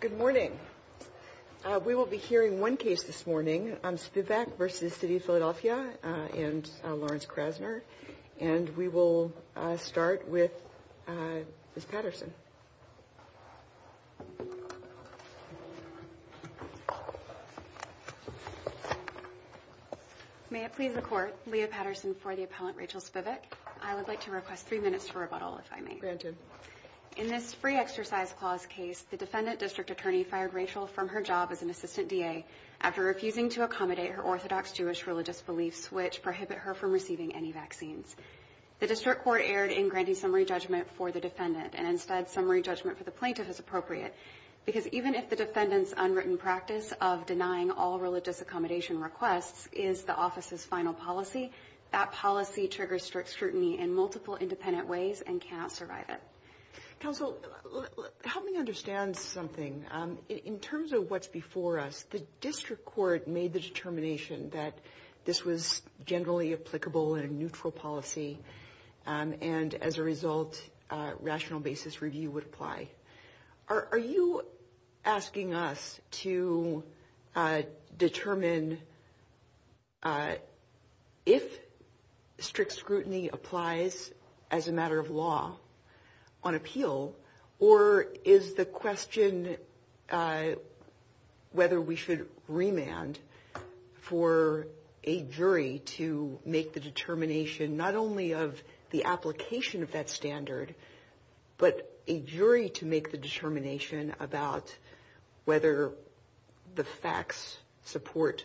Good morning. We will be hearing one case this morning on Spivack v. City of Philadelphia and Lawrence Krasner and we will start with Ms. Patterson. May I please report Leah Patterson for the appellant Rachel Spivack. I would like to request three minutes for rebuttal if I may. Granted. In this free exercise clause case the defendant district attorney fired Rachel from her job as an assistant DA after refusing to accommodate her orthodox Jewish religious beliefs which prohibit her from receiving any vaccines. The district court erred in granting summary judgment for the defendant and instead summary judgment for the plaintiff is appropriate because even if the defendant's unwritten practice of denying all religious accommodation requests is the office's final policy, that policy triggers strict scrutiny in Counsel, help me understand something. In terms of what's before us, the district court made the determination that this was generally applicable in a neutral policy and as a result rational basis review would apply. Are you asking us to on appeal or is the question whether we should remand for a jury to make the determination not only of the application of that standard but a jury to make the determination about whether the facts support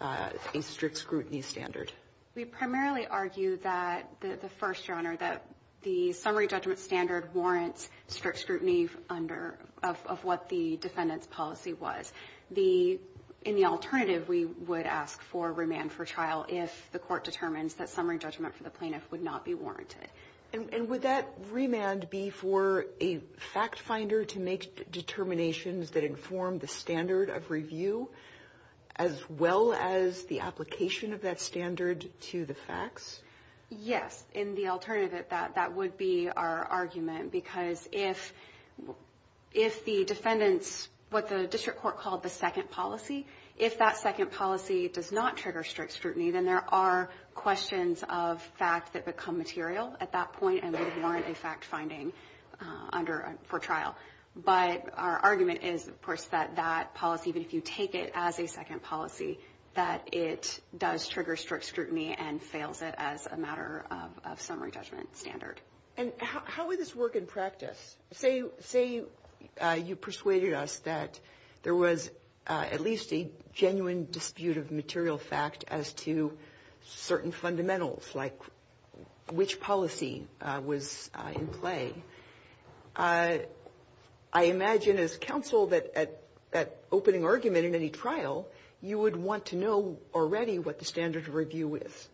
a strict scrutiny standard? We primarily argue that the first, Your Honor, that the summary judgment standard warrants strict scrutiny of what the defendant's policy was. In the alternative we would ask for remand for trial if the court determines that summary judgment for the plaintiff would not be warranted. And would that remand be for a fact finder to make determinations that inform the standard of review as well as the application of that standard to the facts? Yes, in the alternative that would be our argument because if the defendants, what the district court called the second policy, if that second policy does not trigger strict scrutiny then there are questions of fact that become material at that point and would warrant a fact finding for trial. But our argument is, of course, that that policy, even if you take it as a second policy, that it does trigger strict scrutiny and fails it as a matter of summary judgment standard. And how would this work in practice? Say you persuaded us that there was at least a genuine dispute of material fact as to certain fundamentals like which policy was in play. I imagine as counsel that that opening argument in any trial you would want to know already what the standard of review is.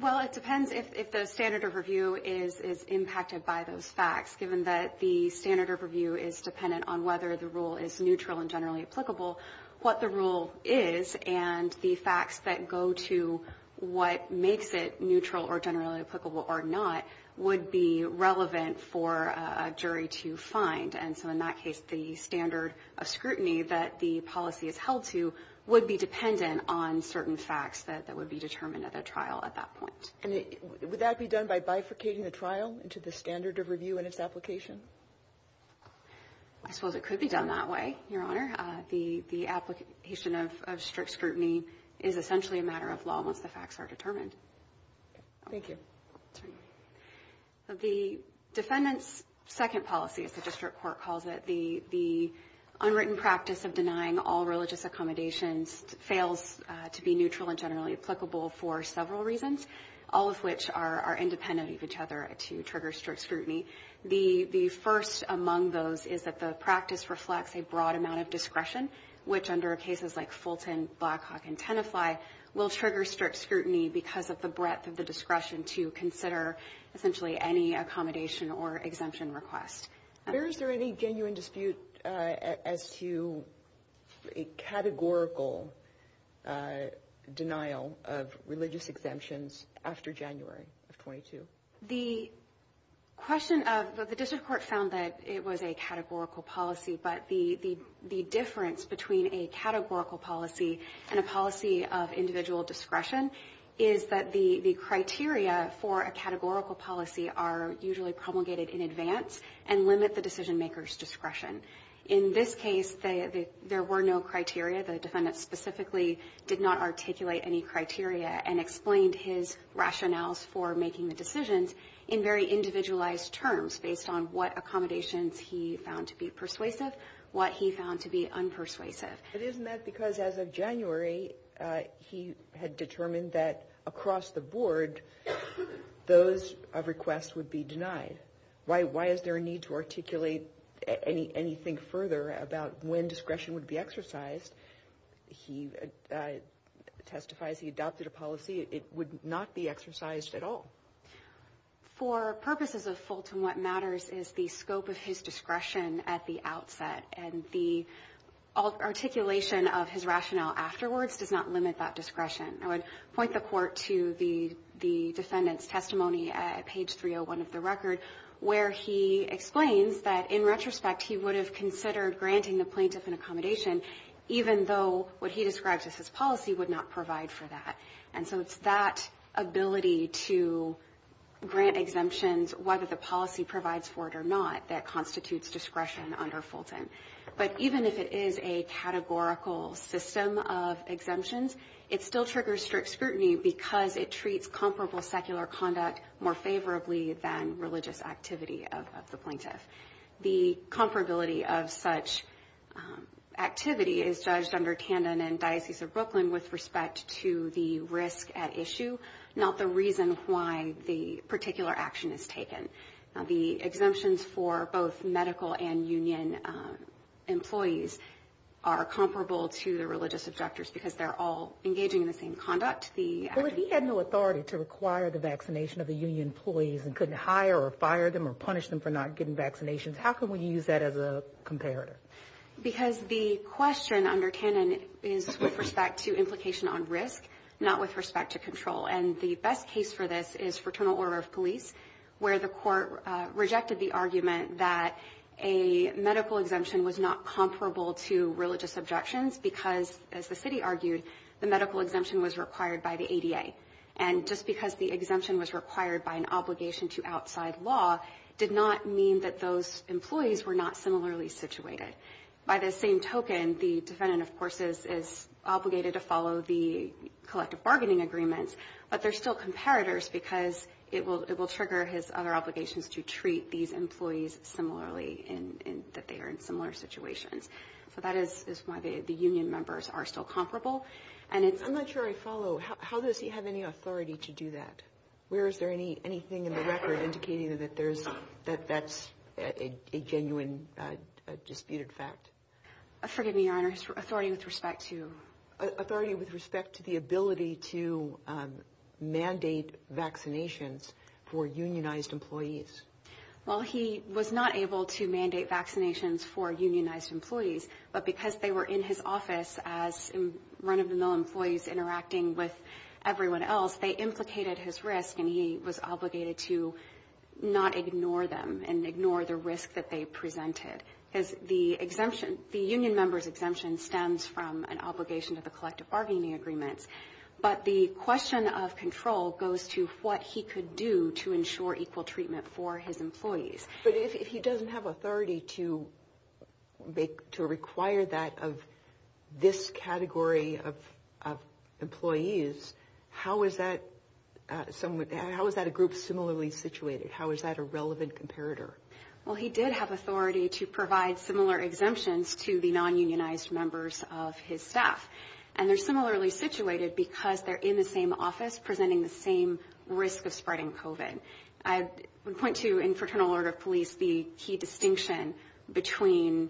Well, it depends if the standard of review is impacted by those facts. Given that the standard of review is dependent on whether the rule is neutral and generally applicable, what the rule is and the facts that go to what makes it neutral or generally applicable or not would be relevant for a jury to determine. So in that case, the standard of scrutiny that the policy is held to would be dependent on certain facts that would be determined at a trial at that point. And would that be done by bifurcating the trial into the standard of review and its application? I suppose it could be done that way, Your Honor. The application of strict scrutiny is essentially a matter of law once the facts are determined. Thank you. The defendant's second policy, as the district court calls it, the unwritten practice of denying all religious accommodations fails to be neutral and generally applicable for several reasons, all of which are independent of each other to trigger strict scrutiny. The first among those is that the practice reflects a broad amount of discretion, which under cases like Fulton, Blackhawk, and Tenafly will trigger strict scrutiny because of the breadth of the discretion to consider essentially any accommodation or exemption request. Is there any genuine dispute as to a categorical denial of religious exemptions after January of 22? The question of the district court found that it was a categorical policy, but the difference between a categorical policy and a policy of individual discretion is that the criteria for a categorical policy are usually promulgated in advance and limit the decision maker's discretion. In this case, there were no criteria. The defendant specifically did not articulate any criteria and explained his rationales for making the decisions in very individualized terms based on what accommodations he found to be persuasive, what he found to be unpersuasive. But isn't that because as of January, he had determined that across the board, those requests would be denied? Why is there a need to articulate anything further about when discretion would be exercised? He testifies he adopted a policy, it would not be exercised at all. For purposes of Fulton, what matters is the scope of his discretion at the time, and the articulation of his rationale afterwards does not limit that discretion. I would point the court to the defendant's testimony at page 301 of the record, where he explains that in retrospect, he would have considered granting the plaintiff an accommodation even though what he describes as his policy would not provide for that. And so it's that ability to grant exemptions, whether the policy provides for it or not, that constitutes discretion under Fulton. But even if it is a categorical system of exemptions, it still triggers strict scrutiny because it treats comparable secular conduct more favorably than religious activity of the plaintiff. The comparability of such activity is judged under Tandon and Diocese of Brooklyn with respect to the risk at issue, not the reason why the particular action is taken. The exemptions for both medical and union employees are comparable to the religious objectors because they're all engaging in the same conduct. Well, if he had no authority to require the vaccination of the union employees and couldn't hire or fire them or punish them for not getting vaccinations, how can we use that as a comparator? Because the question under Tandon is with respect to implication on risk, not with respect to control. And the best case for this is Fraternal Order of Police, where the court rejected the argument that a medical exemption was not comparable to religious objections because, as the city argued, the medical exemption was required by the ADA. And just because the exemption was required by an obligation to outside law did not mean that those employees were not similarly situated. By the same token, the defendant, of course, is obligated to follow the collective bargaining agreements, but they're still comparators because it will trigger his other obligations to treat these employees similarly in that they are in similar situations. So that is why the union members are still comparable. And it's- I'm not sure I follow. How does he have any authority to do that? Where is there anything in the record indicating that that's a genuine disputed fact? Forgive me, Your Honor. Authority with respect to- Well, he was not able to mandate vaccinations for unionized employees, but because they were in his office as run-of-the-mill employees interacting with everyone else, they implicated his risk, and he was obligated to not ignore them and ignore the risk that they presented. Because the exemption, the union member's exemption, stems from an obligation to the collective bargaining agreements. But the question of control goes to what he could do to ensure equal treatment for his employees. But if he doesn't have authority to make- to require that of this category of employees, how is that- how is that a group similarly situated? How is that a relevant comparator? Well, he did have authority to provide similar exemptions to the non-unionized members of his staff. And they're similarly situated because they're in the same office presenting the same risk of spreading COVID. I would point to, in Fraternal Order of Police, the key distinction between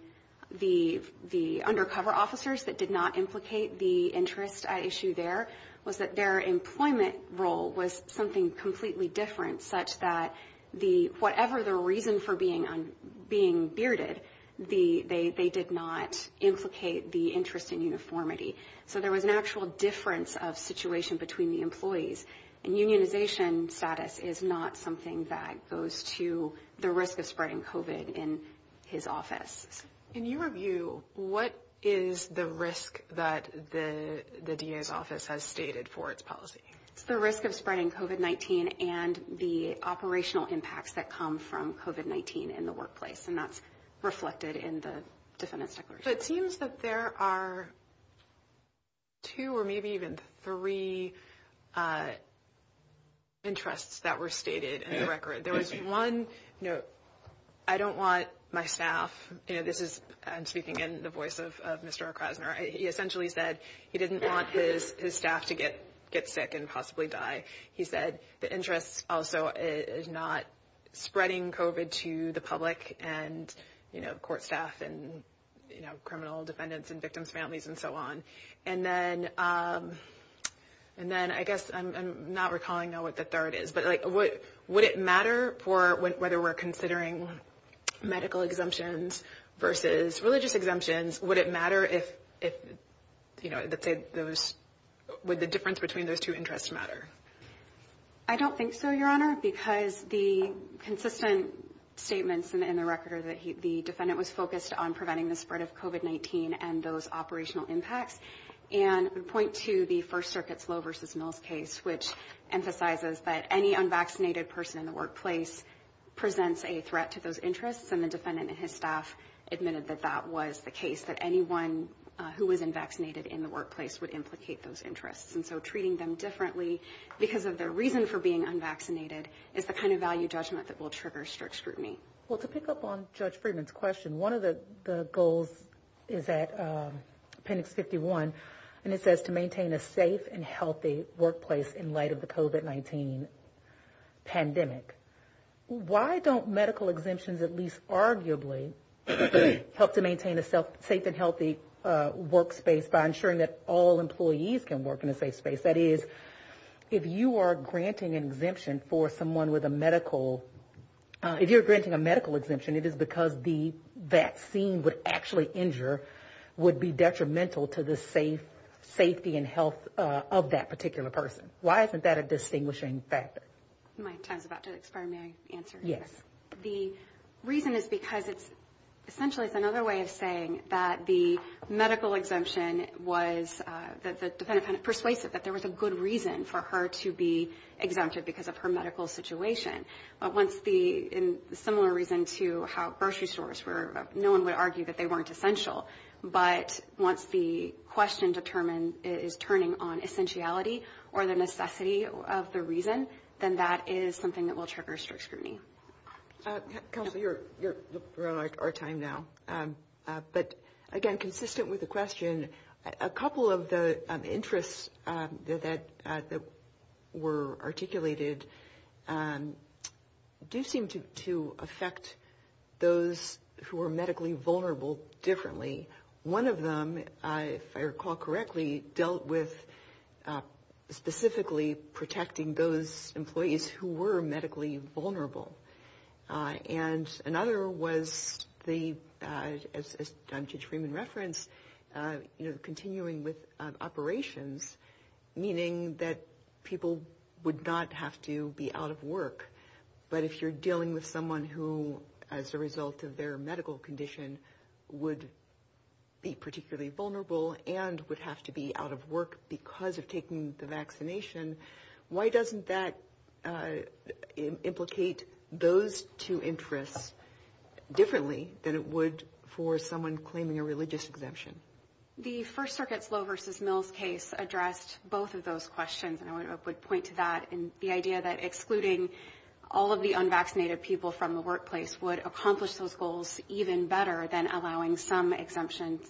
the undercover officers that did not implicate the interest issue there was that their employment role was something completely different, such that the- whatever the reason for being on- being bearded, the- they did not implicate the interest in uniformity. So there was an actual difference of situation between the employees. And unionization status is not something that goes to the risk of spreading COVID in his office. In your view, what is the risk that the DA's office has stated for its policy? It's the risk of spreading COVID-19 and the operational impacts that come from COVID-19 in the workplace. And that's reflected in the defendant's declaration. So it seems that there are two or maybe even three interests that were stated in the record. There was one, you know, I don't want my staff, you know, this is- I'm speaking in the voice of Mr. O'Krasner. He essentially said he didn't want his staff to get sick and possibly die. He said the interest also is not spreading COVID to the public and, you know, court staff and, you know, criminal defendants and victims' families and so on. And then- and then I guess I'm not recalling what the third is, but like, would it matter for whether we're considering medical exemptions versus religious exemptions? Would it matter if, you know, would the difference between those two interests matter? I don't think so, Your Honor, because the consistent statements in the record are that the defendant was focused on preventing the spread of COVID-19 and those operational impacts. And I would point to the First Circuit's Lowe v. Mills case, which emphasizes that any unvaccinated person in the workplace presents a threat to those interests. And the defendant and his staff admitted that that was the case, that anyone who was unvaccinated in the workplace would implicate those interests. And so treating them differently because of their reason for being unvaccinated is the kind of value judgment that will trigger strict scrutiny. Well, to pick up on Judge Friedman's question, one of the goals is at Appendix 51, and it says to maintain a safe and healthy workplace in light of the COVID-19 pandemic. Why don't medical exemptions at least arguably help to maintain a safe and healthy workspace by ensuring that all employees can work in a safe space? That is, if you are granting an exemption for someone with a medical, if you're granting a medical exemption, it is because the vaccine would actually injure, would be detrimental to the safe safety and health of that particular person. Why isn't that a distinguishing factor? My time is about to expire, may I answer? Yes. The reason is because it's essentially it's another way of saying that the medical exemption was that the defendant kind of persuasive that there was a good reason for her to be exempted because of her medical situation. But once the similar reason to how grocery stores were, no one would argue that they weren't essential. But once the question determined is turning on essentiality or the medical exemption, then that is something that will trigger a strict scrutiny. Counselor, you're running out of time now, but again, consistent with the question, a couple of the interests that were articulated do seem to affect those who are medically vulnerable differently. One of them, if I recall correctly, dealt with specifically protecting those employees who were medically vulnerable. And another was the, as Judge Freeman referenced, continuing with operations, meaning that people would not have to be out of work. But if you're dealing with someone who, as a result of their medical condition, would be particularly vulnerable and would have to be out of work because of taking the vaccination, why doesn't that implicate those two interests differently than it would for someone claiming a religious exemption? The First Circuit's Low v. Mills case addressed both of those questions. And I would point to that and the idea that excluding all of the unvaccinated people from the workplace would accomplish those goals even better than allowing some exemptions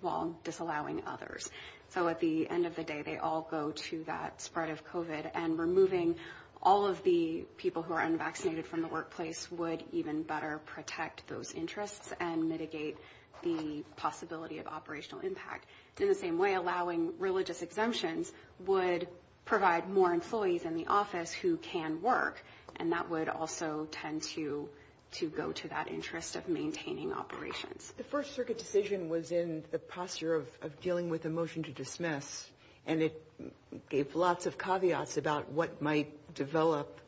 while disallowing others. So at the end of the day, they all go to that spread of COVID. And removing all of the people who are unvaccinated from the workplace would even better protect those interests and mitigate the possibility of operational impact. In the same way, allowing religious exemptions would provide more employees in the office who can work, and that would also tend to go to that interest of maintaining operations. The First Circuit decision was in the posture of dealing with a motion to dismiss, and it gave lots of caveats about what might develop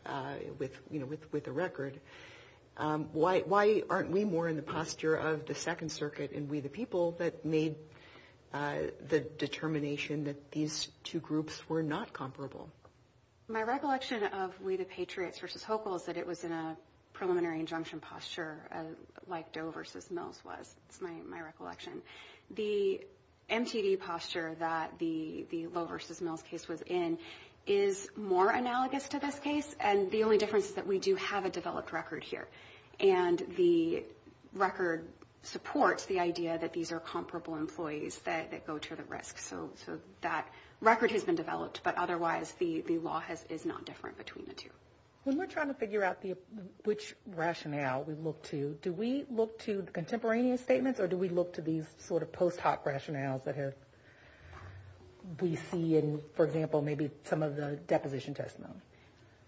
with a record. Why aren't we more in the posture of the Second Circuit and we the people that made the determination that these two groups were not comparable? My recollection of We the Patriots v. Hochul is that it was in a preliminary injunction posture like Doe v. Mills was. It's my recollection. The MTD posture that the Low v. Mills case was in is more analogous to this case. And the only difference is that we do have a developed record here. And the record supports the idea that these are comparable employees that go to the risk. So that record has been developed. But otherwise, the law is not different between the two. When we're trying to figure out which rationale we look to, do we look to contemporaneous statements or do we look to these sort of post hoc rationales that we see in, for example, maybe some of the deposition testimony?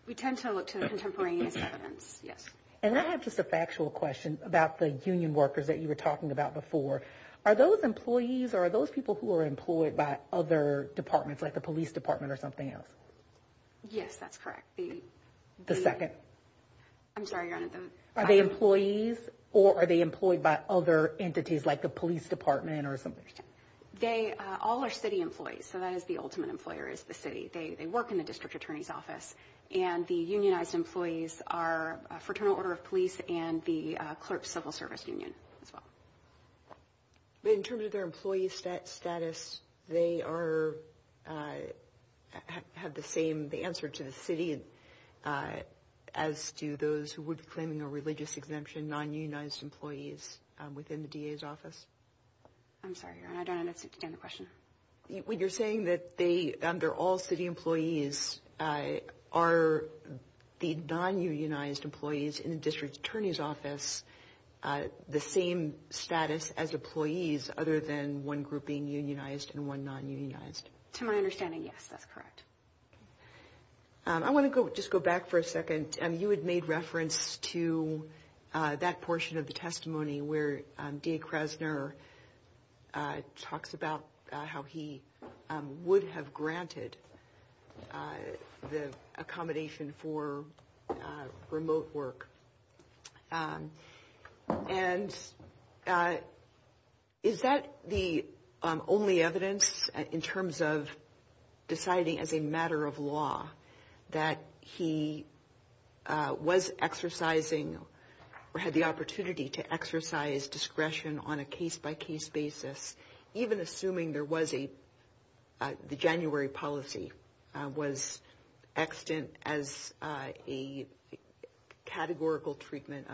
We tend to look to contemporaneous evidence. Yes. And I have just a factual question about the union workers that you were talking about before. Are those employees or are those people who are employed by other departments like the police department or something else? Yes, that's correct. The second. I'm sorry. Are they employees or are they employed by other entities like the police department or something? They all are city employees. So that is the ultimate employer is the city. They work in the district attorney's office and the unionized employees are a fraternal order of police and the clerk civil service union as well. But in terms of their employee status, they are have the same the answer to the city and as do those who would be claiming a religious exemption, non-unionized employees within the DA's office. I'm sorry, I don't understand the question. When you're saying that they are all city employees, are the non-unionized employees in the district attorney's office the same status as employees other than one group being unionized and one non-unionized? To my understanding, yes, that's correct. I want to just go back for a second. You had made reference to that portion of the testimony where DA Krasner talks about how he would have granted the accommodation for remote work. And is that the only evidence in terms of deciding as a matter of law that he was exercising or had the opportunity to exercise discretion on a case by case basis, even assuming there was a, the January policy was extant as a categorical treatment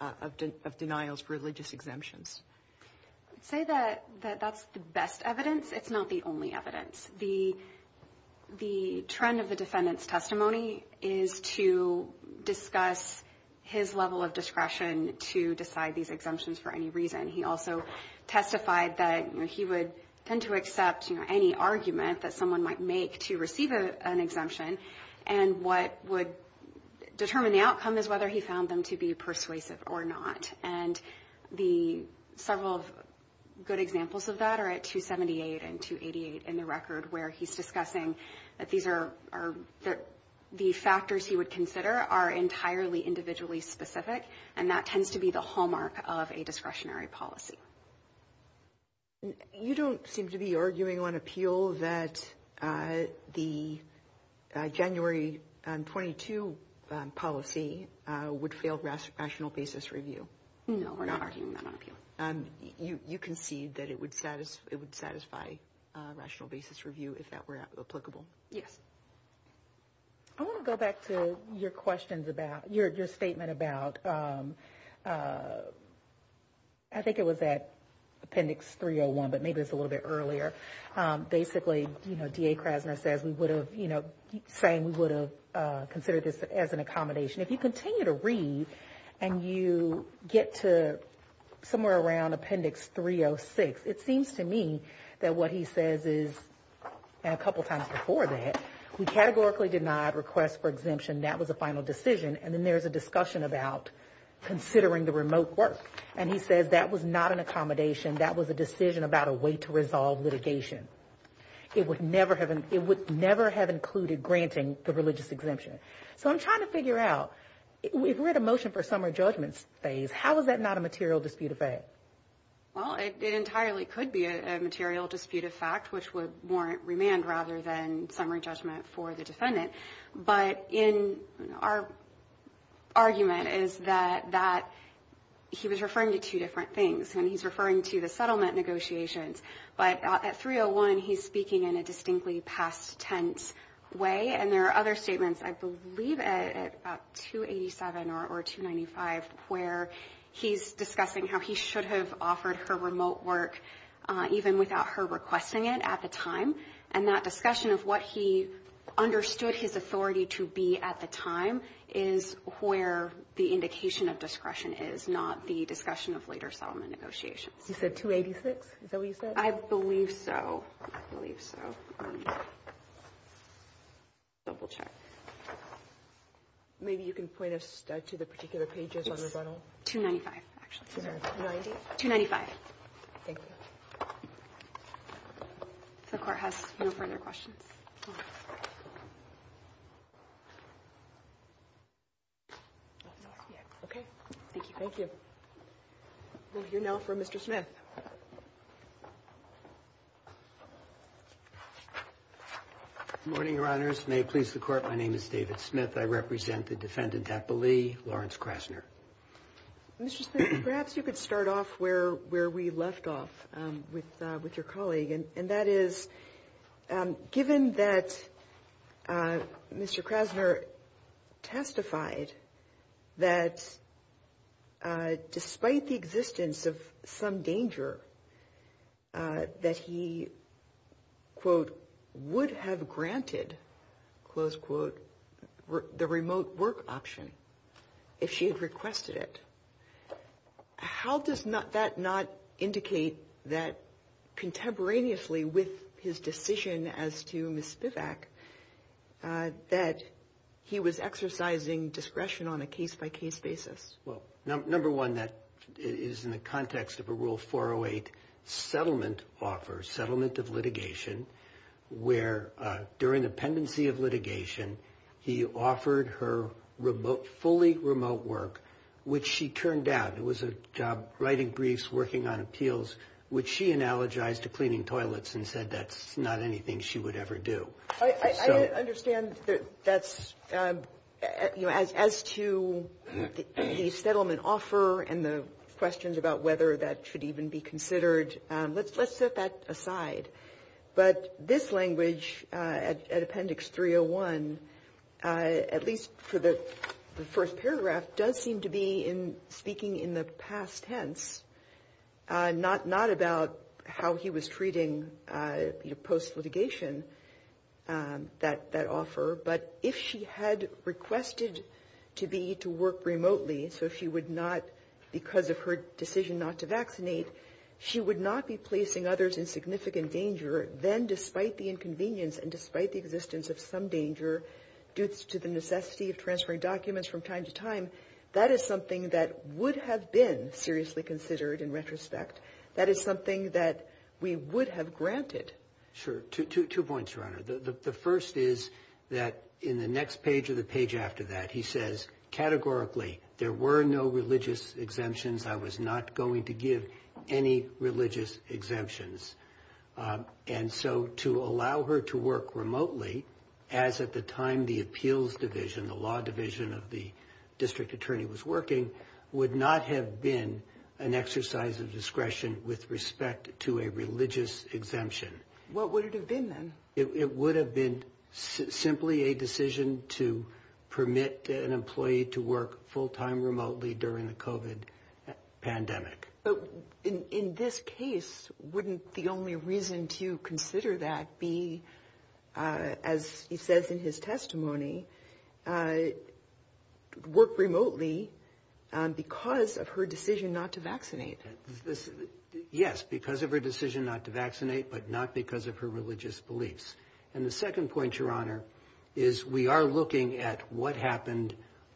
of denials for religious exemptions? I'd say that that's the best evidence. It's not the only evidence. The trend of the defendant's testimony is to discuss his level of discretion to decide these exemptions for any reason. He also testified that he would tend to accept any argument that someone might make to receive an exemption. And what would determine the outcome is whether he found them to be persuasive or not. And the several good examples of that are at 278 and 288 in the record, where he's discussing that these are, the factors he would consider are entirely individually specific. And that tends to be the hallmark of a discretionary policy. You don't seem to be arguing on appeal that the January 22 policy would fail rational basis review. No, we're not arguing that on appeal. You concede that it would satisfy rational basis review if that were applicable? Yes. I want to go back to your questions about your statement about. I think it was that Appendix 301, but maybe it's a little bit earlier. Basically, you know, D.A. Krasner says we would have, you know, saying we would have considered this as an accommodation. If you continue to read and you get to somewhere around Appendix 306, it says, you know, there's a discussion about considering the remote work. And he says that was not an accommodation. That was a decision about a way to resolve litigation. It would never have, it would never have included granting the religious exemption. So I'm trying to figure out, if we're at a motion for summary judgment phase, how is that not a material dispute of fact? Well, it entirely could be a material dispute of fact, which would warrant remand rather than summary judgment for the defendant. But in our argument is that that he was referring to two different things and he's referring to the settlement negotiations. But at 301, he's speaking in a distinctly past tense way. And there are other statements, I believe at 287 or 295, where he's discussing how he should have offered her remote work even without her requesting it at the time. And that discussion of what he understood his authority to be at the time is where the indication of discretion is, not the discussion of later settlement negotiations. You said 286? Is that what you said? I believe so. I believe so. Let me double-check. Maybe you can point us to the particular pages on the bundle. 295, actually. Sorry. 290? 295. Thank you. The Court has no further questions. Okay. Thank you. Thank you. We'll hear now from Mr. Smith. Good morning, Your Honors. May it please the Court. My name is David Smith. I represent the defendant, Epple Lee, Lawrence Krasner. Mr. Smith, perhaps you could start off where we left off. with your colleague, and that is, given that Mr. Krasner testified that despite the existence of some danger that he, quote, would have granted, close quote, the remote work option if she had requested it, how does that not indicate that contemporaneously with his decision as to Ms. Spivak that he was exercising discretion on a case-by-case basis? Well, number one, that is in the context of a Rule 408 settlement offer, settlement of litigation, where during the pendency of litigation, he offered her remote, fully remote work, which she turned down. It was a job writing briefs, working on appeals, which she analogized to cleaning toilets and said that's not anything she would ever do. I understand that that's, you know, as to the settlement offer and the questions about whether that should even be considered, let's set that aside. But this language at Appendix 301, at least for the first paragraph, does seem to be in speaking in the past tense, not about how he was treating, you know, post-litigation, that offer. But if she had requested to be, to work remotely, so she would not, because of her decision not to vaccinate, she would not be placing others in significant danger, then despite the inconvenience and despite the existence of some danger due to the necessity of transferring documents from time to time, that is something that would have been seriously considered in retrospect. That is something that we would have granted. Sure. Two points, Your Honor. The first is that in the next page or the page after that, he says categorically, there were no religious exemptions. I was not going to give any religious exemptions. And so to allow her to work remotely, as at the time the appeals division, the law division of the district attorney was working, would not have been an exercise of discretion with respect to a religious exemption. What would it have been, then? It would have been simply a decision to permit an employee to work full-time remotely during the COVID pandemic. But in this case, wouldn't the only reason to consider that be, as he says in his testimony, work remotely because of her decision not to vaccinate? Yes, because of her decision not to vaccinate, but not because of her religious beliefs. And the second point, Your Honor, is we are looking at what happened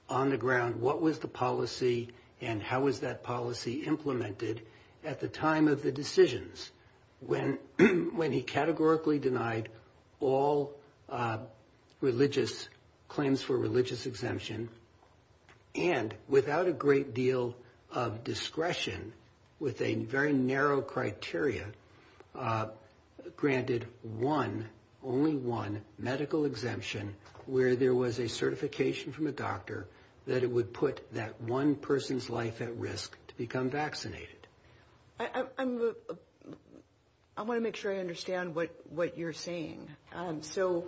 on the ground. What was the policy and how was that policy implemented at the time of the decisions? When he categorically denied all religious claims for religious exemption and without a great deal of discretion, with a very narrow criteria, granted one, only one medical exemption where there was a certification from a doctor that it would put that one person's life at risk to become vaccinated. I want to make sure I understand what you're saying. So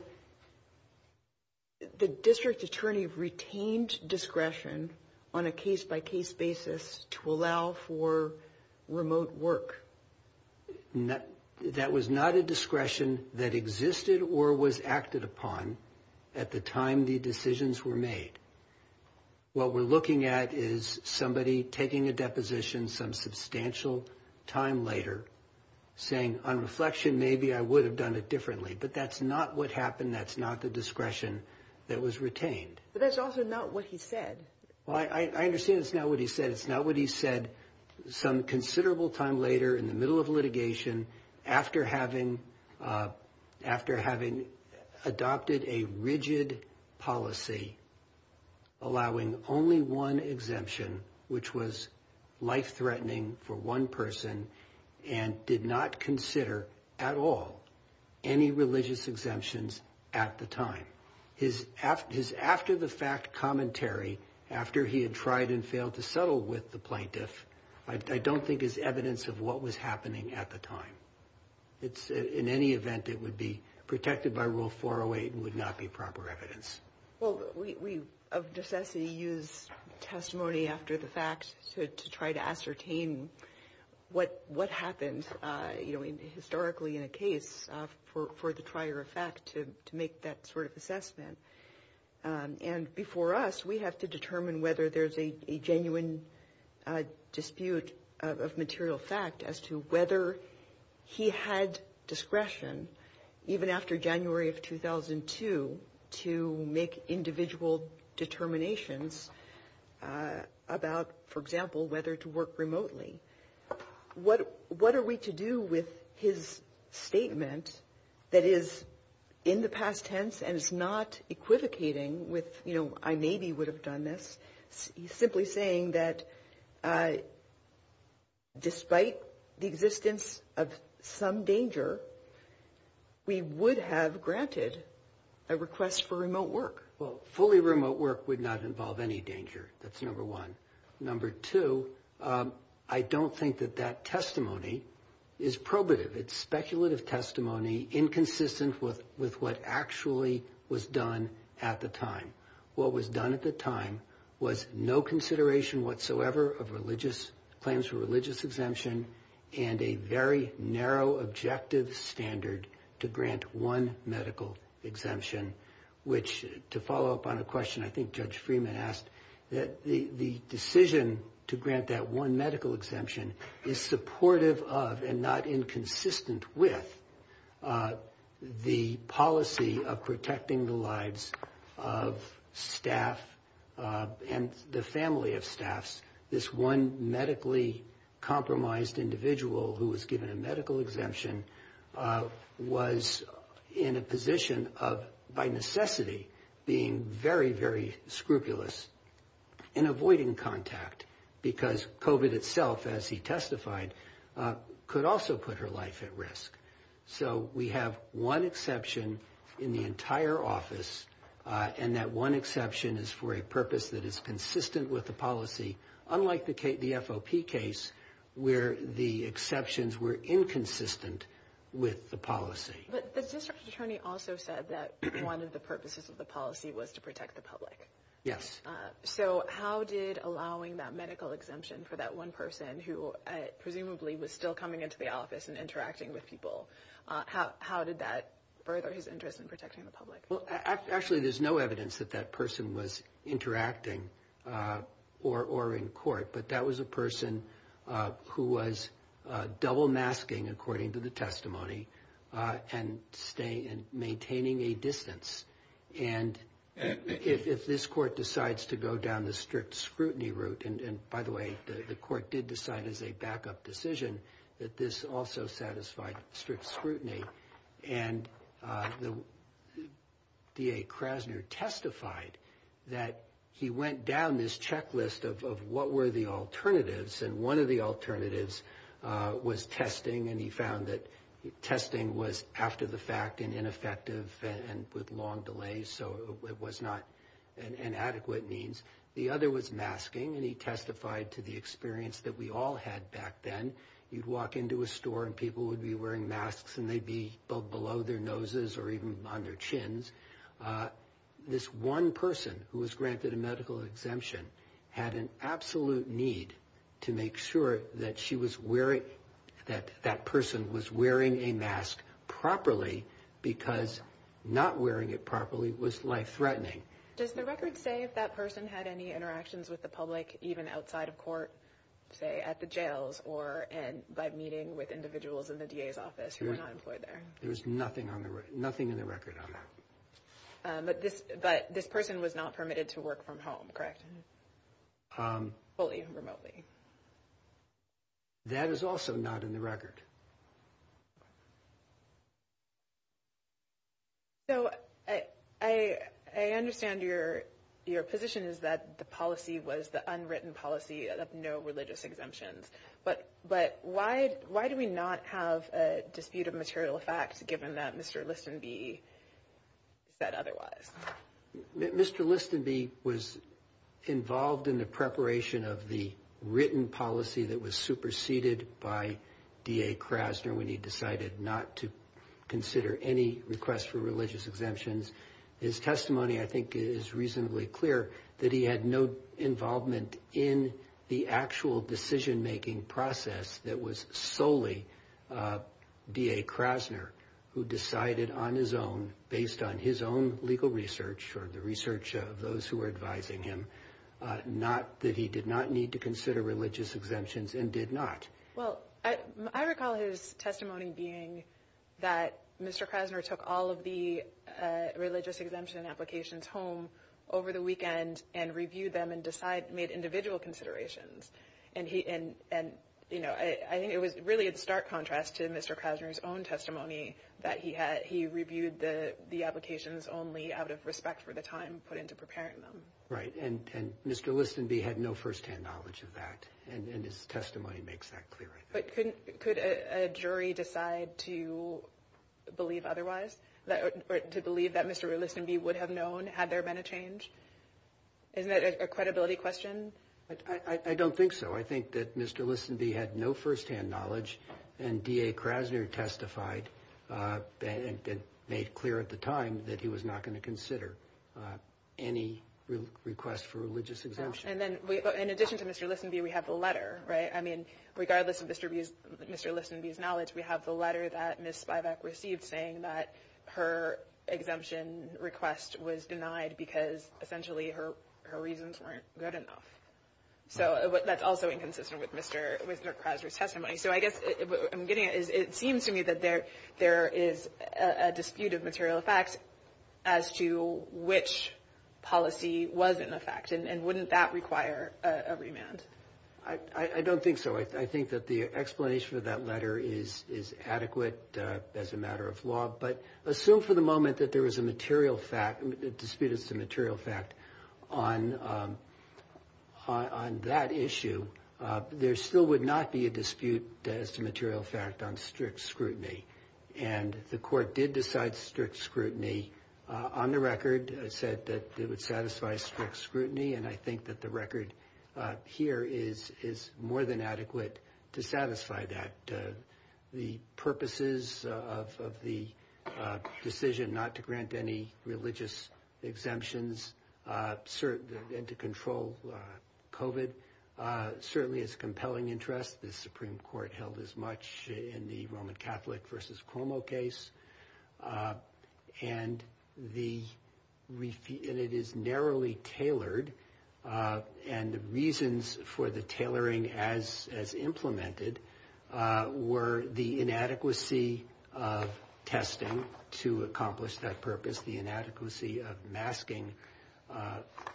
the district attorney retained discretion on a case-by-case basis to allow for remote work. That was not a discretion that existed or was acted upon at the time the decisions were made. What we're looking at is somebody taking a deposition some substantial time later, saying on reflection, maybe I would have done it differently. But that's not what happened. That's not the discretion that was retained. But that's also not what he said. Well, I understand it's not what he said. It's not what he said some considerable time later in the middle of litigation, after having adopted a rigid policy allowing only one exemption, which was life-threatening for one person, and did not consider at all any religious exemptions at the time. His after-the-fact commentary, after he had tried and failed to settle with the plaintiff, I don't think is evidence of what was happening at the time. In any event, it would be protected by Rule 408 and would not be proper evidence. Well, we, of necessity, use testimony after the fact to try to ascertain what happened, you know, historically in a case for the prior effect to make that sort of assessment. And before us, we have to determine whether there's a genuine dispute of material fact as to whether he had discretion, even after January of 2002, to make individual determinations about, for example, whether to work remotely. What are we to do with his statement that is in the past tense and is not equivocating with, you know, I maybe would have done this? He's simply saying that despite the existence of some danger, we would have granted a request for remote work. Well, fully remote work would not involve any danger. That's number one. Number two, I don't think that that testimony is probative. It's speculative testimony inconsistent with what actually was done at the time. What was done at the time was no consideration whatsoever of claims for religious exemption and a very narrow objective standard to grant one medical exemption, which to follow up on a question I think Judge Freeman asked, that the decision to grant that one medical exemption is supportive of and not inconsistent with the policy of protecting the lives of staff and the family of staffs. This one medically compromised individual who was given a medical exemption was in a position of by necessity being very, very scrupulous in avoiding contact because COVID itself, as he testified, could also put her life at risk. So we have one exception in the entire office and that one exception is for a purpose that is consistent with the policy, unlike the FOP case where the exceptions were inconsistent with the policy. But the district attorney also said that one of the purposes of the policy was to protect the public. Yes. So how did allowing that medical exemption for that one person who presumably was still coming into the office and interacting with people, how did that further his interest in protecting the public? Well, actually there's no evidence that that person was interacting or in court, but that was a person who was double masking according to the testimony and maintaining a distance. And if this court decides to go down the strict scrutiny route, and by the way, the court did decide as a backup decision that this also satisfied strict scrutiny. And the DA Krasner testified that he went down this checklist of what were the alternatives and one of the alternatives was testing and he found that testing was after the fact and ineffective and with long delays, so it was not an adequate means. The other was masking and he testified to the experience that we all had back then. You'd walk into a store and people would be wearing masks and they'd be below their noses or even on their chins. This one person who was granted a medical exemption had an absolute need to make sure that she was wearing, that that person was wearing a mask properly because not wearing it properly was life-threatening. Does the record say if that person had any interactions with the public, even outside of court, say at the jails or by meeting with individuals in the DA's office who were not employed there? There's nothing in the record on that. But this person was not permitted to work from home, correct? Fully and remotely. That is also not in the record. So I understand your position is that the policy was the unwritten policy of no religious exemptions, but why do we not have a dispute of material facts given that Mr. Listonby said otherwise? Mr. Listonby was involved in the preparation of the written policy that was superseded by DA Krasner when he decided not to consider any request for religious exemptions. His testimony, I think, is reasonably clear that he had no involvement in the actual decision-making process that was solely DA Krasner who decided on his own, or the research of those who were advising him, not that he did not need to consider religious exemptions and did not. Well, I recall his testimony being that Mr. Krasner took all of the religious exemption applications home over the weekend and reviewed them and made individual considerations. And I think it was really in stark contrast to Mr. Krasner's own testimony that he reviewed the applications only out of respect for the time put into preparing them. Right, and Mr. Listonby had no first-hand knowledge of that, and his testimony makes that clear, I think. But could a jury decide to believe otherwise, to believe that Mr. Listonby would have known had there been a change? Isn't that a credibility question? I don't think so. I think that Mr. Listonby had no first-hand knowledge, and DA Krasner testified and made clear at the time that he was not going to consider any request for religious exemption. And then, in addition to Mr. Listonby, we have the letter, right? I mean, regardless of Mr. Listonby's knowledge, we have the letter that Ms. Spivack received saying that her exemption request was denied because, essentially, her reasons weren't good enough. So that's also inconsistent with Mr. Krasner's testimony. So I guess what I'm getting at is it seems to me that there is a dispute of material facts as to which policy was in effect, and wouldn't that require a remand? I don't think so. I think that the explanation for that letter is adequate as a matter of law. But assume for the moment that there was a dispute as to material fact on that issue, there still would not be a dispute as to material fact on strict scrutiny. And the court did decide strict scrutiny on the record. It said that it would satisfy strict scrutiny, and I think that the record here is more than adequate to satisfy that. The purposes of the decision not to grant any religious exemptions, and to control COVID, certainly is a compelling interest. The Supreme Court held as much in the Roman Catholic versus Cuomo case, and it is narrowly tailored. And the reasons for the tailoring as implemented were the inadequacy of testing to accomplish that purpose, the inadequacy of masking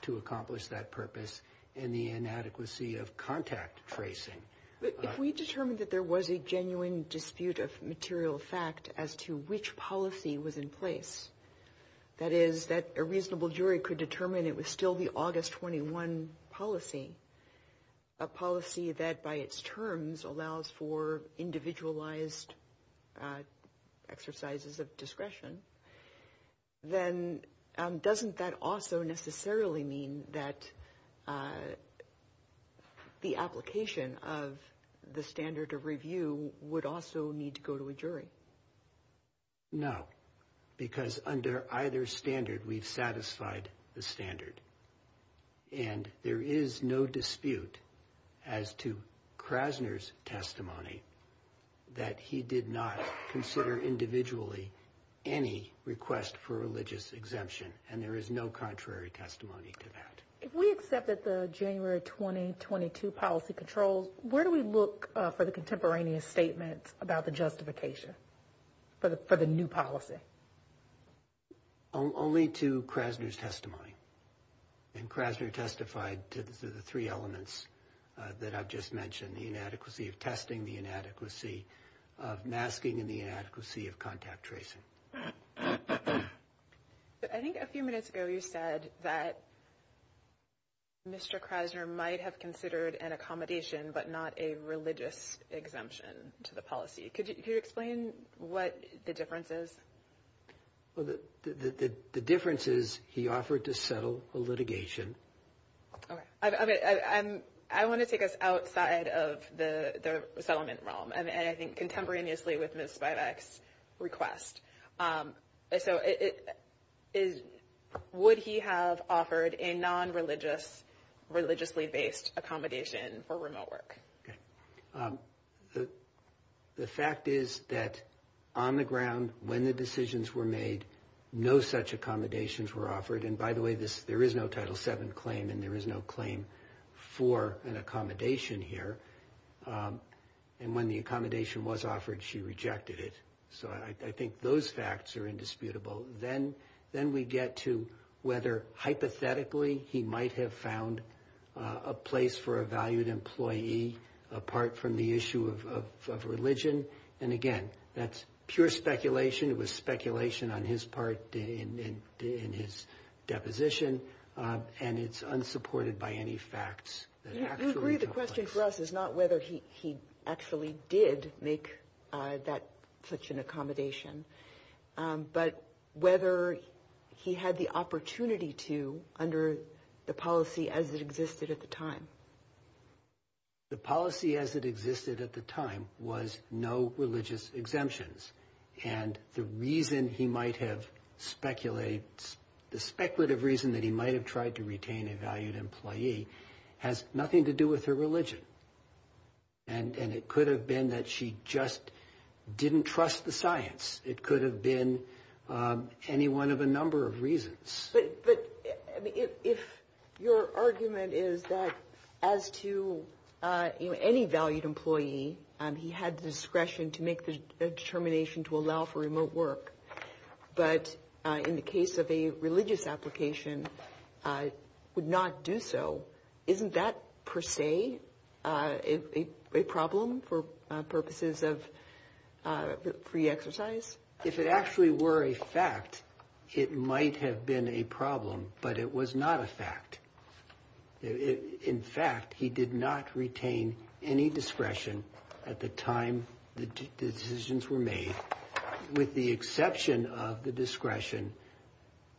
to accomplish that purpose, and the inadequacy of contact tracing. But if we determined that there was a genuine dispute of material fact as to which policy was in place, that is, that a reasonable jury could determine it was still the August 21 policy, a policy that by its terms allows for individualized exercises of discretion, then doesn't that also necessarily mean that the application of the standard of review would also need to go to a jury? No, because under either standard, we've satisfied the standard. And there is no dispute as to Krasner's testimony that he did not consider individually any request for religious exemption. And there is no contrary testimony to that. If we accept that the January 2022 policy controls, where do we look for the contemporaneous statement about the justification for the new policy? Only to Krasner's testimony. And Krasner testified to the three elements that I've just mentioned, the inadequacy of testing, the inadequacy of masking, and the inadequacy of contact tracing. I think a few minutes ago you said that Mr. Krasner might have considered an accommodation, but not a religious exemption to the policy. Could you explain what the difference is? Well, the difference is he offered to settle a litigation. OK. I want to take us outside of the settlement realm. And I think contemporaneously with Ms. Spivak's request. So would he have offered a non-religious, religiously-based accommodation for remote work? The fact is that on the ground, when the decisions were made, no such accommodations were offered. And by the way, there is no Title VII claim and there is no claim for an accommodation here. And when the accommodation was offered, she rejected it. So I think those facts are indisputable. Then we get to whether hypothetically he might have found a place for a valued employee, apart from the issue of religion. And again, that's pure speculation. It was speculation on his part in his deposition. And it's unsupported by any facts. You agree the question for us is not whether he actually did make that such an accommodation, but whether he had the opportunity to under the policy as it existed at the time. The policy as it existed at the time was no religious exemptions. And the reason he might have speculated, the speculative reason that he might have tried to retain a valued employee has nothing to do with her religion. And it could have been that she just didn't trust the science. It could have been any one of a number of reasons. But if your argument is that as to any valued employee, he had the discretion to make the determination to allow for remote work. But in the case of a religious application, would not do so. Isn't that per se a problem for purposes of free exercise? If it actually were a fact, it might have been a problem. But it was not a fact. In fact, he did not retain any discretion at the time the decisions were made. With the exception of the discretion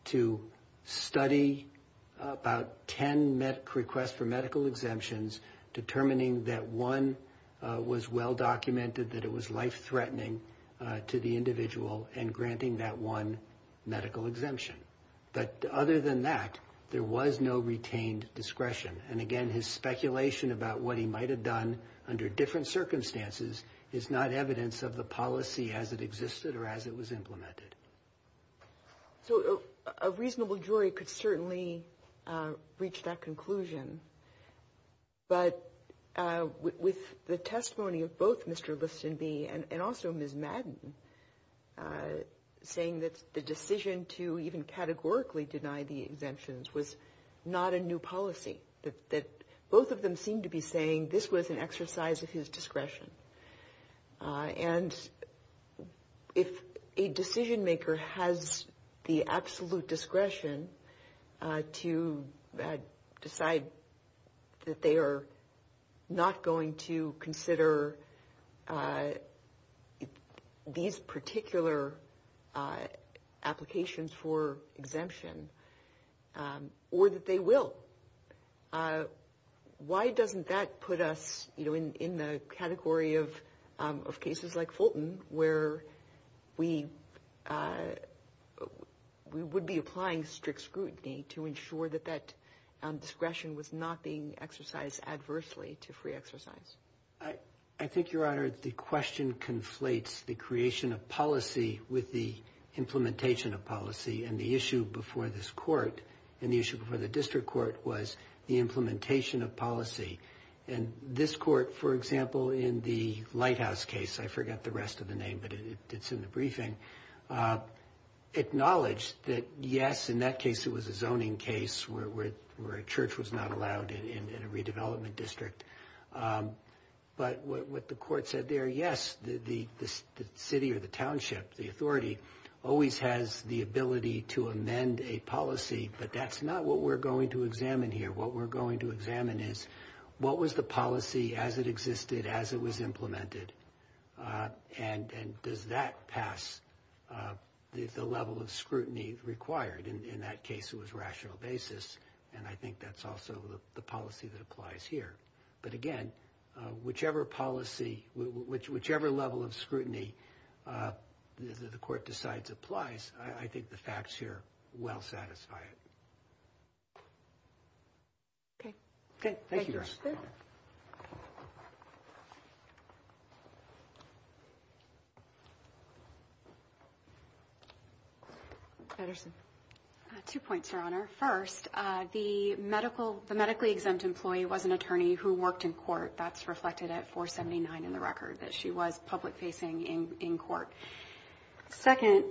to study about 10 requests for medical exemptions, determining that one was well documented that it was life threatening to the individual and granting that one medical exemption. But other than that, there was no retained discretion. And again, his speculation about what he might have done under different circumstances is not evidence of the policy as it existed or as it was implemented. So a reasonable jury could certainly reach that conclusion. But with the testimony of both Mr. Listonby and also Ms. Madden, saying that the decision to even categorically deny the exemptions was not a new policy, that both of them seem to be saying this was an exercise of his discretion. And if a decision maker has the absolute discretion to decide that they are not going to consider these particular applications for exemption, or that they will, why doesn't that put us in the category of cases like Fulton, where we would be applying strict scrutiny to ensure that that discretion was not being exercised adversely to free exercise? I think, Your Honor, the question conflates the creation of policy with the implementation of policy. And the issue before this court and the issue before the district court was the implementation of policy. And this court, for example, in the Lighthouse case, I forget the rest of the name, but it's in the briefing, acknowledged that, yes, in that case, it was a zoning case where a church was not allowed in a redevelopment district. But what the court said there, yes, the city or the township, the authority, always has the ability to amend a policy. But that's not what we're going to examine here. What we're going to examine is, what was the policy as it existed, as it was implemented? And does that pass the level of scrutiny required? In that case, it was rational basis. And I think that's also the policy that applies here. But again, whichever policy, whichever level of scrutiny the court decides applies, I think the facts here well satisfy it. OK. OK. Thank you, Your Honor. First, the medically exempt employee was an attorney who worked in court. That's reflected at 479 in the record, that she was public facing in court. Second,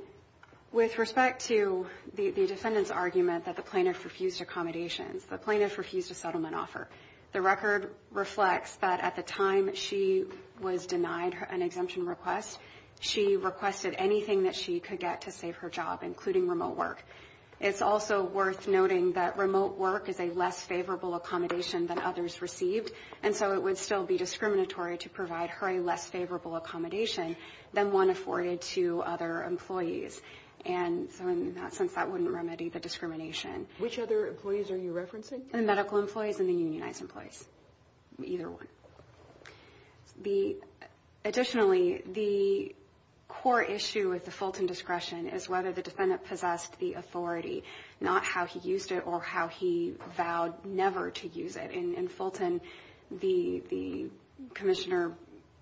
with respect to the defendant's argument that the plaintiff refused accommodations, the plaintiff refused a settlement offer, the record reflects that at the time she was denied an exemption request, she requested anything that she could get to save her job, including remote work. It's also worth noting that remote work is a less favorable accommodation than others received, and so it would still be discriminatory to provide her a less favorable accommodation than one afforded to other employees. And so in that sense, that wouldn't remedy the discrimination. Which other employees are you referencing? The medical employees and the unionized employees, either one. Additionally, the core issue with the Fulton discretion is whether the defendant possessed the authority, not how he used it or how he vowed never to use it. In Fulton, the commissioner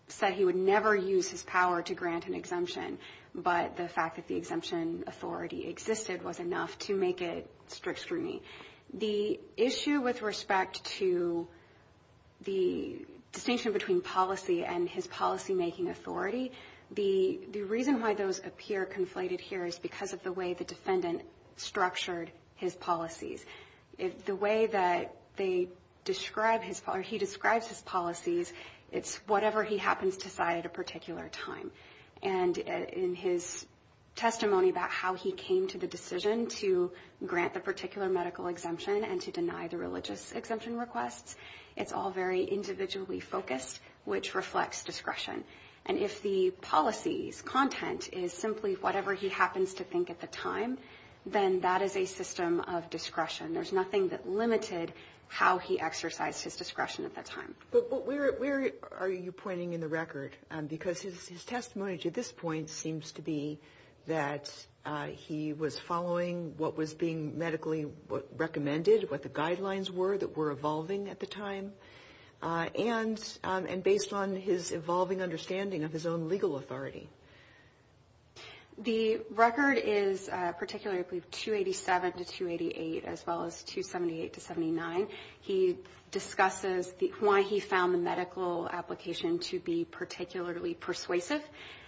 said he would never use his power to grant an exemption, but the fact that the exemption authority existed was enough to make it strict scrutiny. The issue with respect to the distinction between policy and his policymaking authority, the reason why those appear conflated here is because of the way the defendant structured his policies. The way that he describes his policies, it's whatever he happens to cite at a particular time. And in his testimony about how he came to the decision to grant the particular medical exemption and to deny the religious exemption requests, it's all very individually focused, which reflects discretion. And if the policy's content is simply whatever he happens to think at the time, then that is a system of discretion. There's nothing that limited how he exercised his discretion at that time. But where are you pointing in the record? Because his testimony to this point seems to be that he was following what was being medically recommended, what the guidelines were that were evolving at the time, and based on his evolving understanding of his own legal authority. The record is particularly 287 to 288, as well as 278 to 79. He discusses why he found the medical application to be particularly persuasive.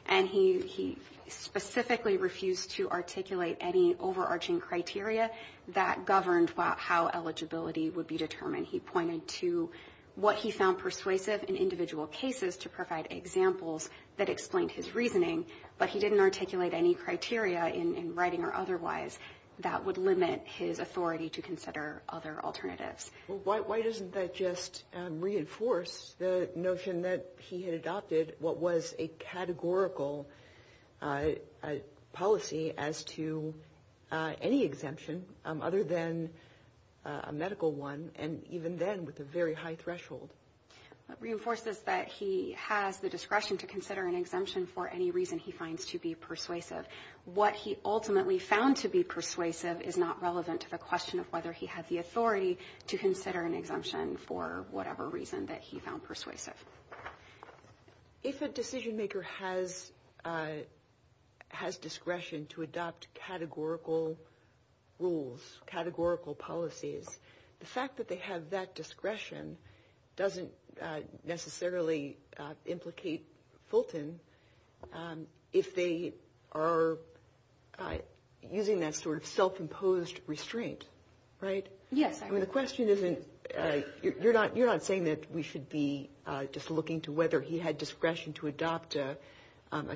And he specifically refused to articulate any overarching criteria that governed how eligibility would be determined. He pointed to what he found persuasive in individual cases to provide examples that explained his reasoning, but he didn't articulate any criteria in writing or otherwise that would limit his authority to consider other alternatives. Why doesn't that just reinforce the notion that he had adopted what was a categorical policy as to any exemption other than a medical one, and even then with a very high threshold? It reinforces that he has the discretion to consider an exemption for any reason he finds to be persuasive. What he ultimately found to be persuasive is not relevant to the question of whether he had the authority to consider an exemption for whatever reason that he found persuasive. If a decision maker has discretion to adopt categorical rules, categorical policies, the fact that they have that discretion doesn't necessarily implicate Fulton if they are using that sort of self-imposed restraint, right? Yes. The question isn't, you're not saying that we should be just looking to whether he had discretion to adopt a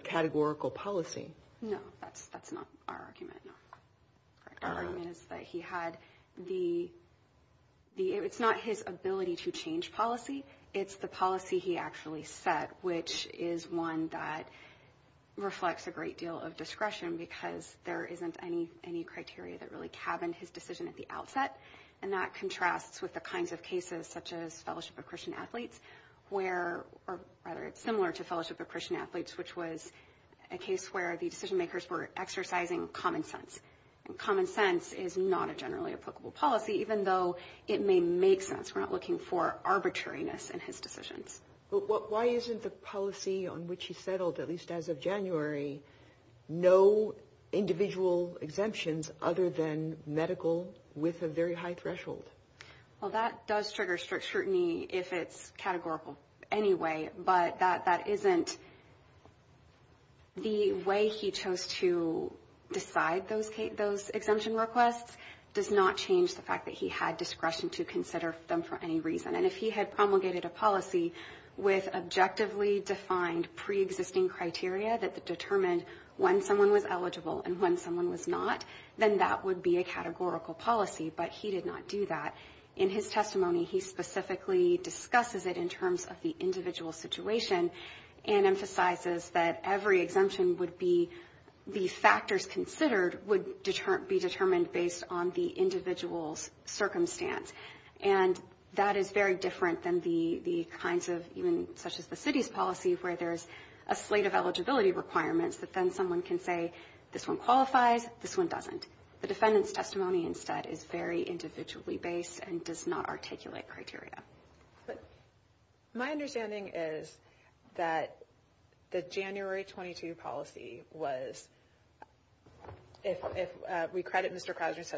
categorical policy. No, that's not our argument. Our argument is that he had the, it's not his ability to change policy, it's the policy he actually set, which is one that reflects a great deal of discretion because there isn't any criteria that really cabined his decision at the outset. And that contrasts with the kinds of cases such as Fellowship of Christian Athletes, or rather it's similar to Fellowship of Christian Athletes, which was a case where the decision makers were exercising common sense. And common sense is not a generally applicable policy, even though it may make sense. We're not looking for arbitrariness in his decisions. But why isn't the policy on which he settled, at least as of January, no individual exemptions other than medical with a very high threshold? Well, that does trigger strict scrutiny if it's categorical anyway, but that isn't the way he chose to decide those exemption requests. Does not change the fact that he had discretion to consider them for any reason. And if he had promulgated a policy with objectively defined pre-existing criteria that determined when someone was eligible and when someone was not, then that would be a categorical policy. But he did not do that. In his testimony, he specifically discusses it in terms of the individual situation and emphasizes that every exemption would be, the factors considered would be determined based on the individual's circumstance. And that is very different than the kinds of, even such as the city's policy, where there's a slate of eligibility requirements that then someone can say, this one qualifies, this one doesn't. The defendant's testimony instead is very individually based and does not articulate criteria. My understanding is that the January 22 policy was, if we credit Mr. religious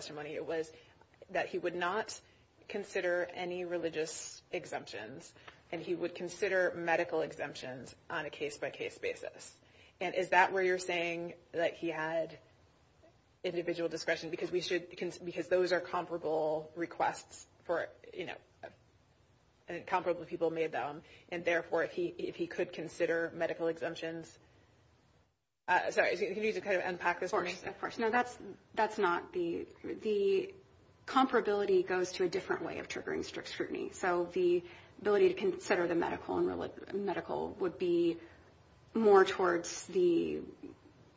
exemptions, and he would consider medical exemptions on a case-by-case basis. And is that where you're saying that he had individual discretion because we should, because those are comparable requests for, you know, and comparable people made them. And therefore, if he could consider medical exemptions, sorry, can you just kind of unpack this for me? Of course, no, that's not the, the comparability goes to a different way of triggering strict scrutiny. So the ability to consider the medical would be more towards the,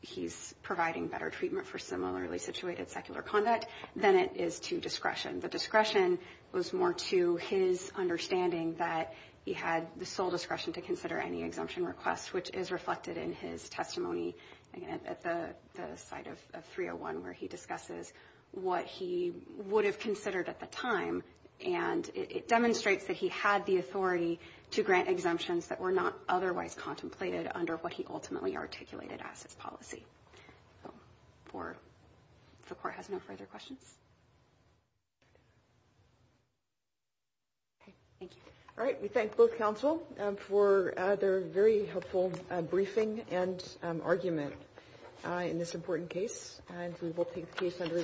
he's providing better treatment for similarly situated secular conduct than it is to discretion. The discretion was more to his understanding that he had the sole discretion to consider any exemption request, which is reflected in his testimony at the site of 301, where he discusses what he would have considered at the time. And it demonstrates that he had the authority to grant exemptions that were not otherwise contemplated under what he ultimately articulated as his policy. For, if the court has no further questions. Thank you. All right, we thank both counsel for their very helpful briefing and argument in this important case. And we will take the case under review.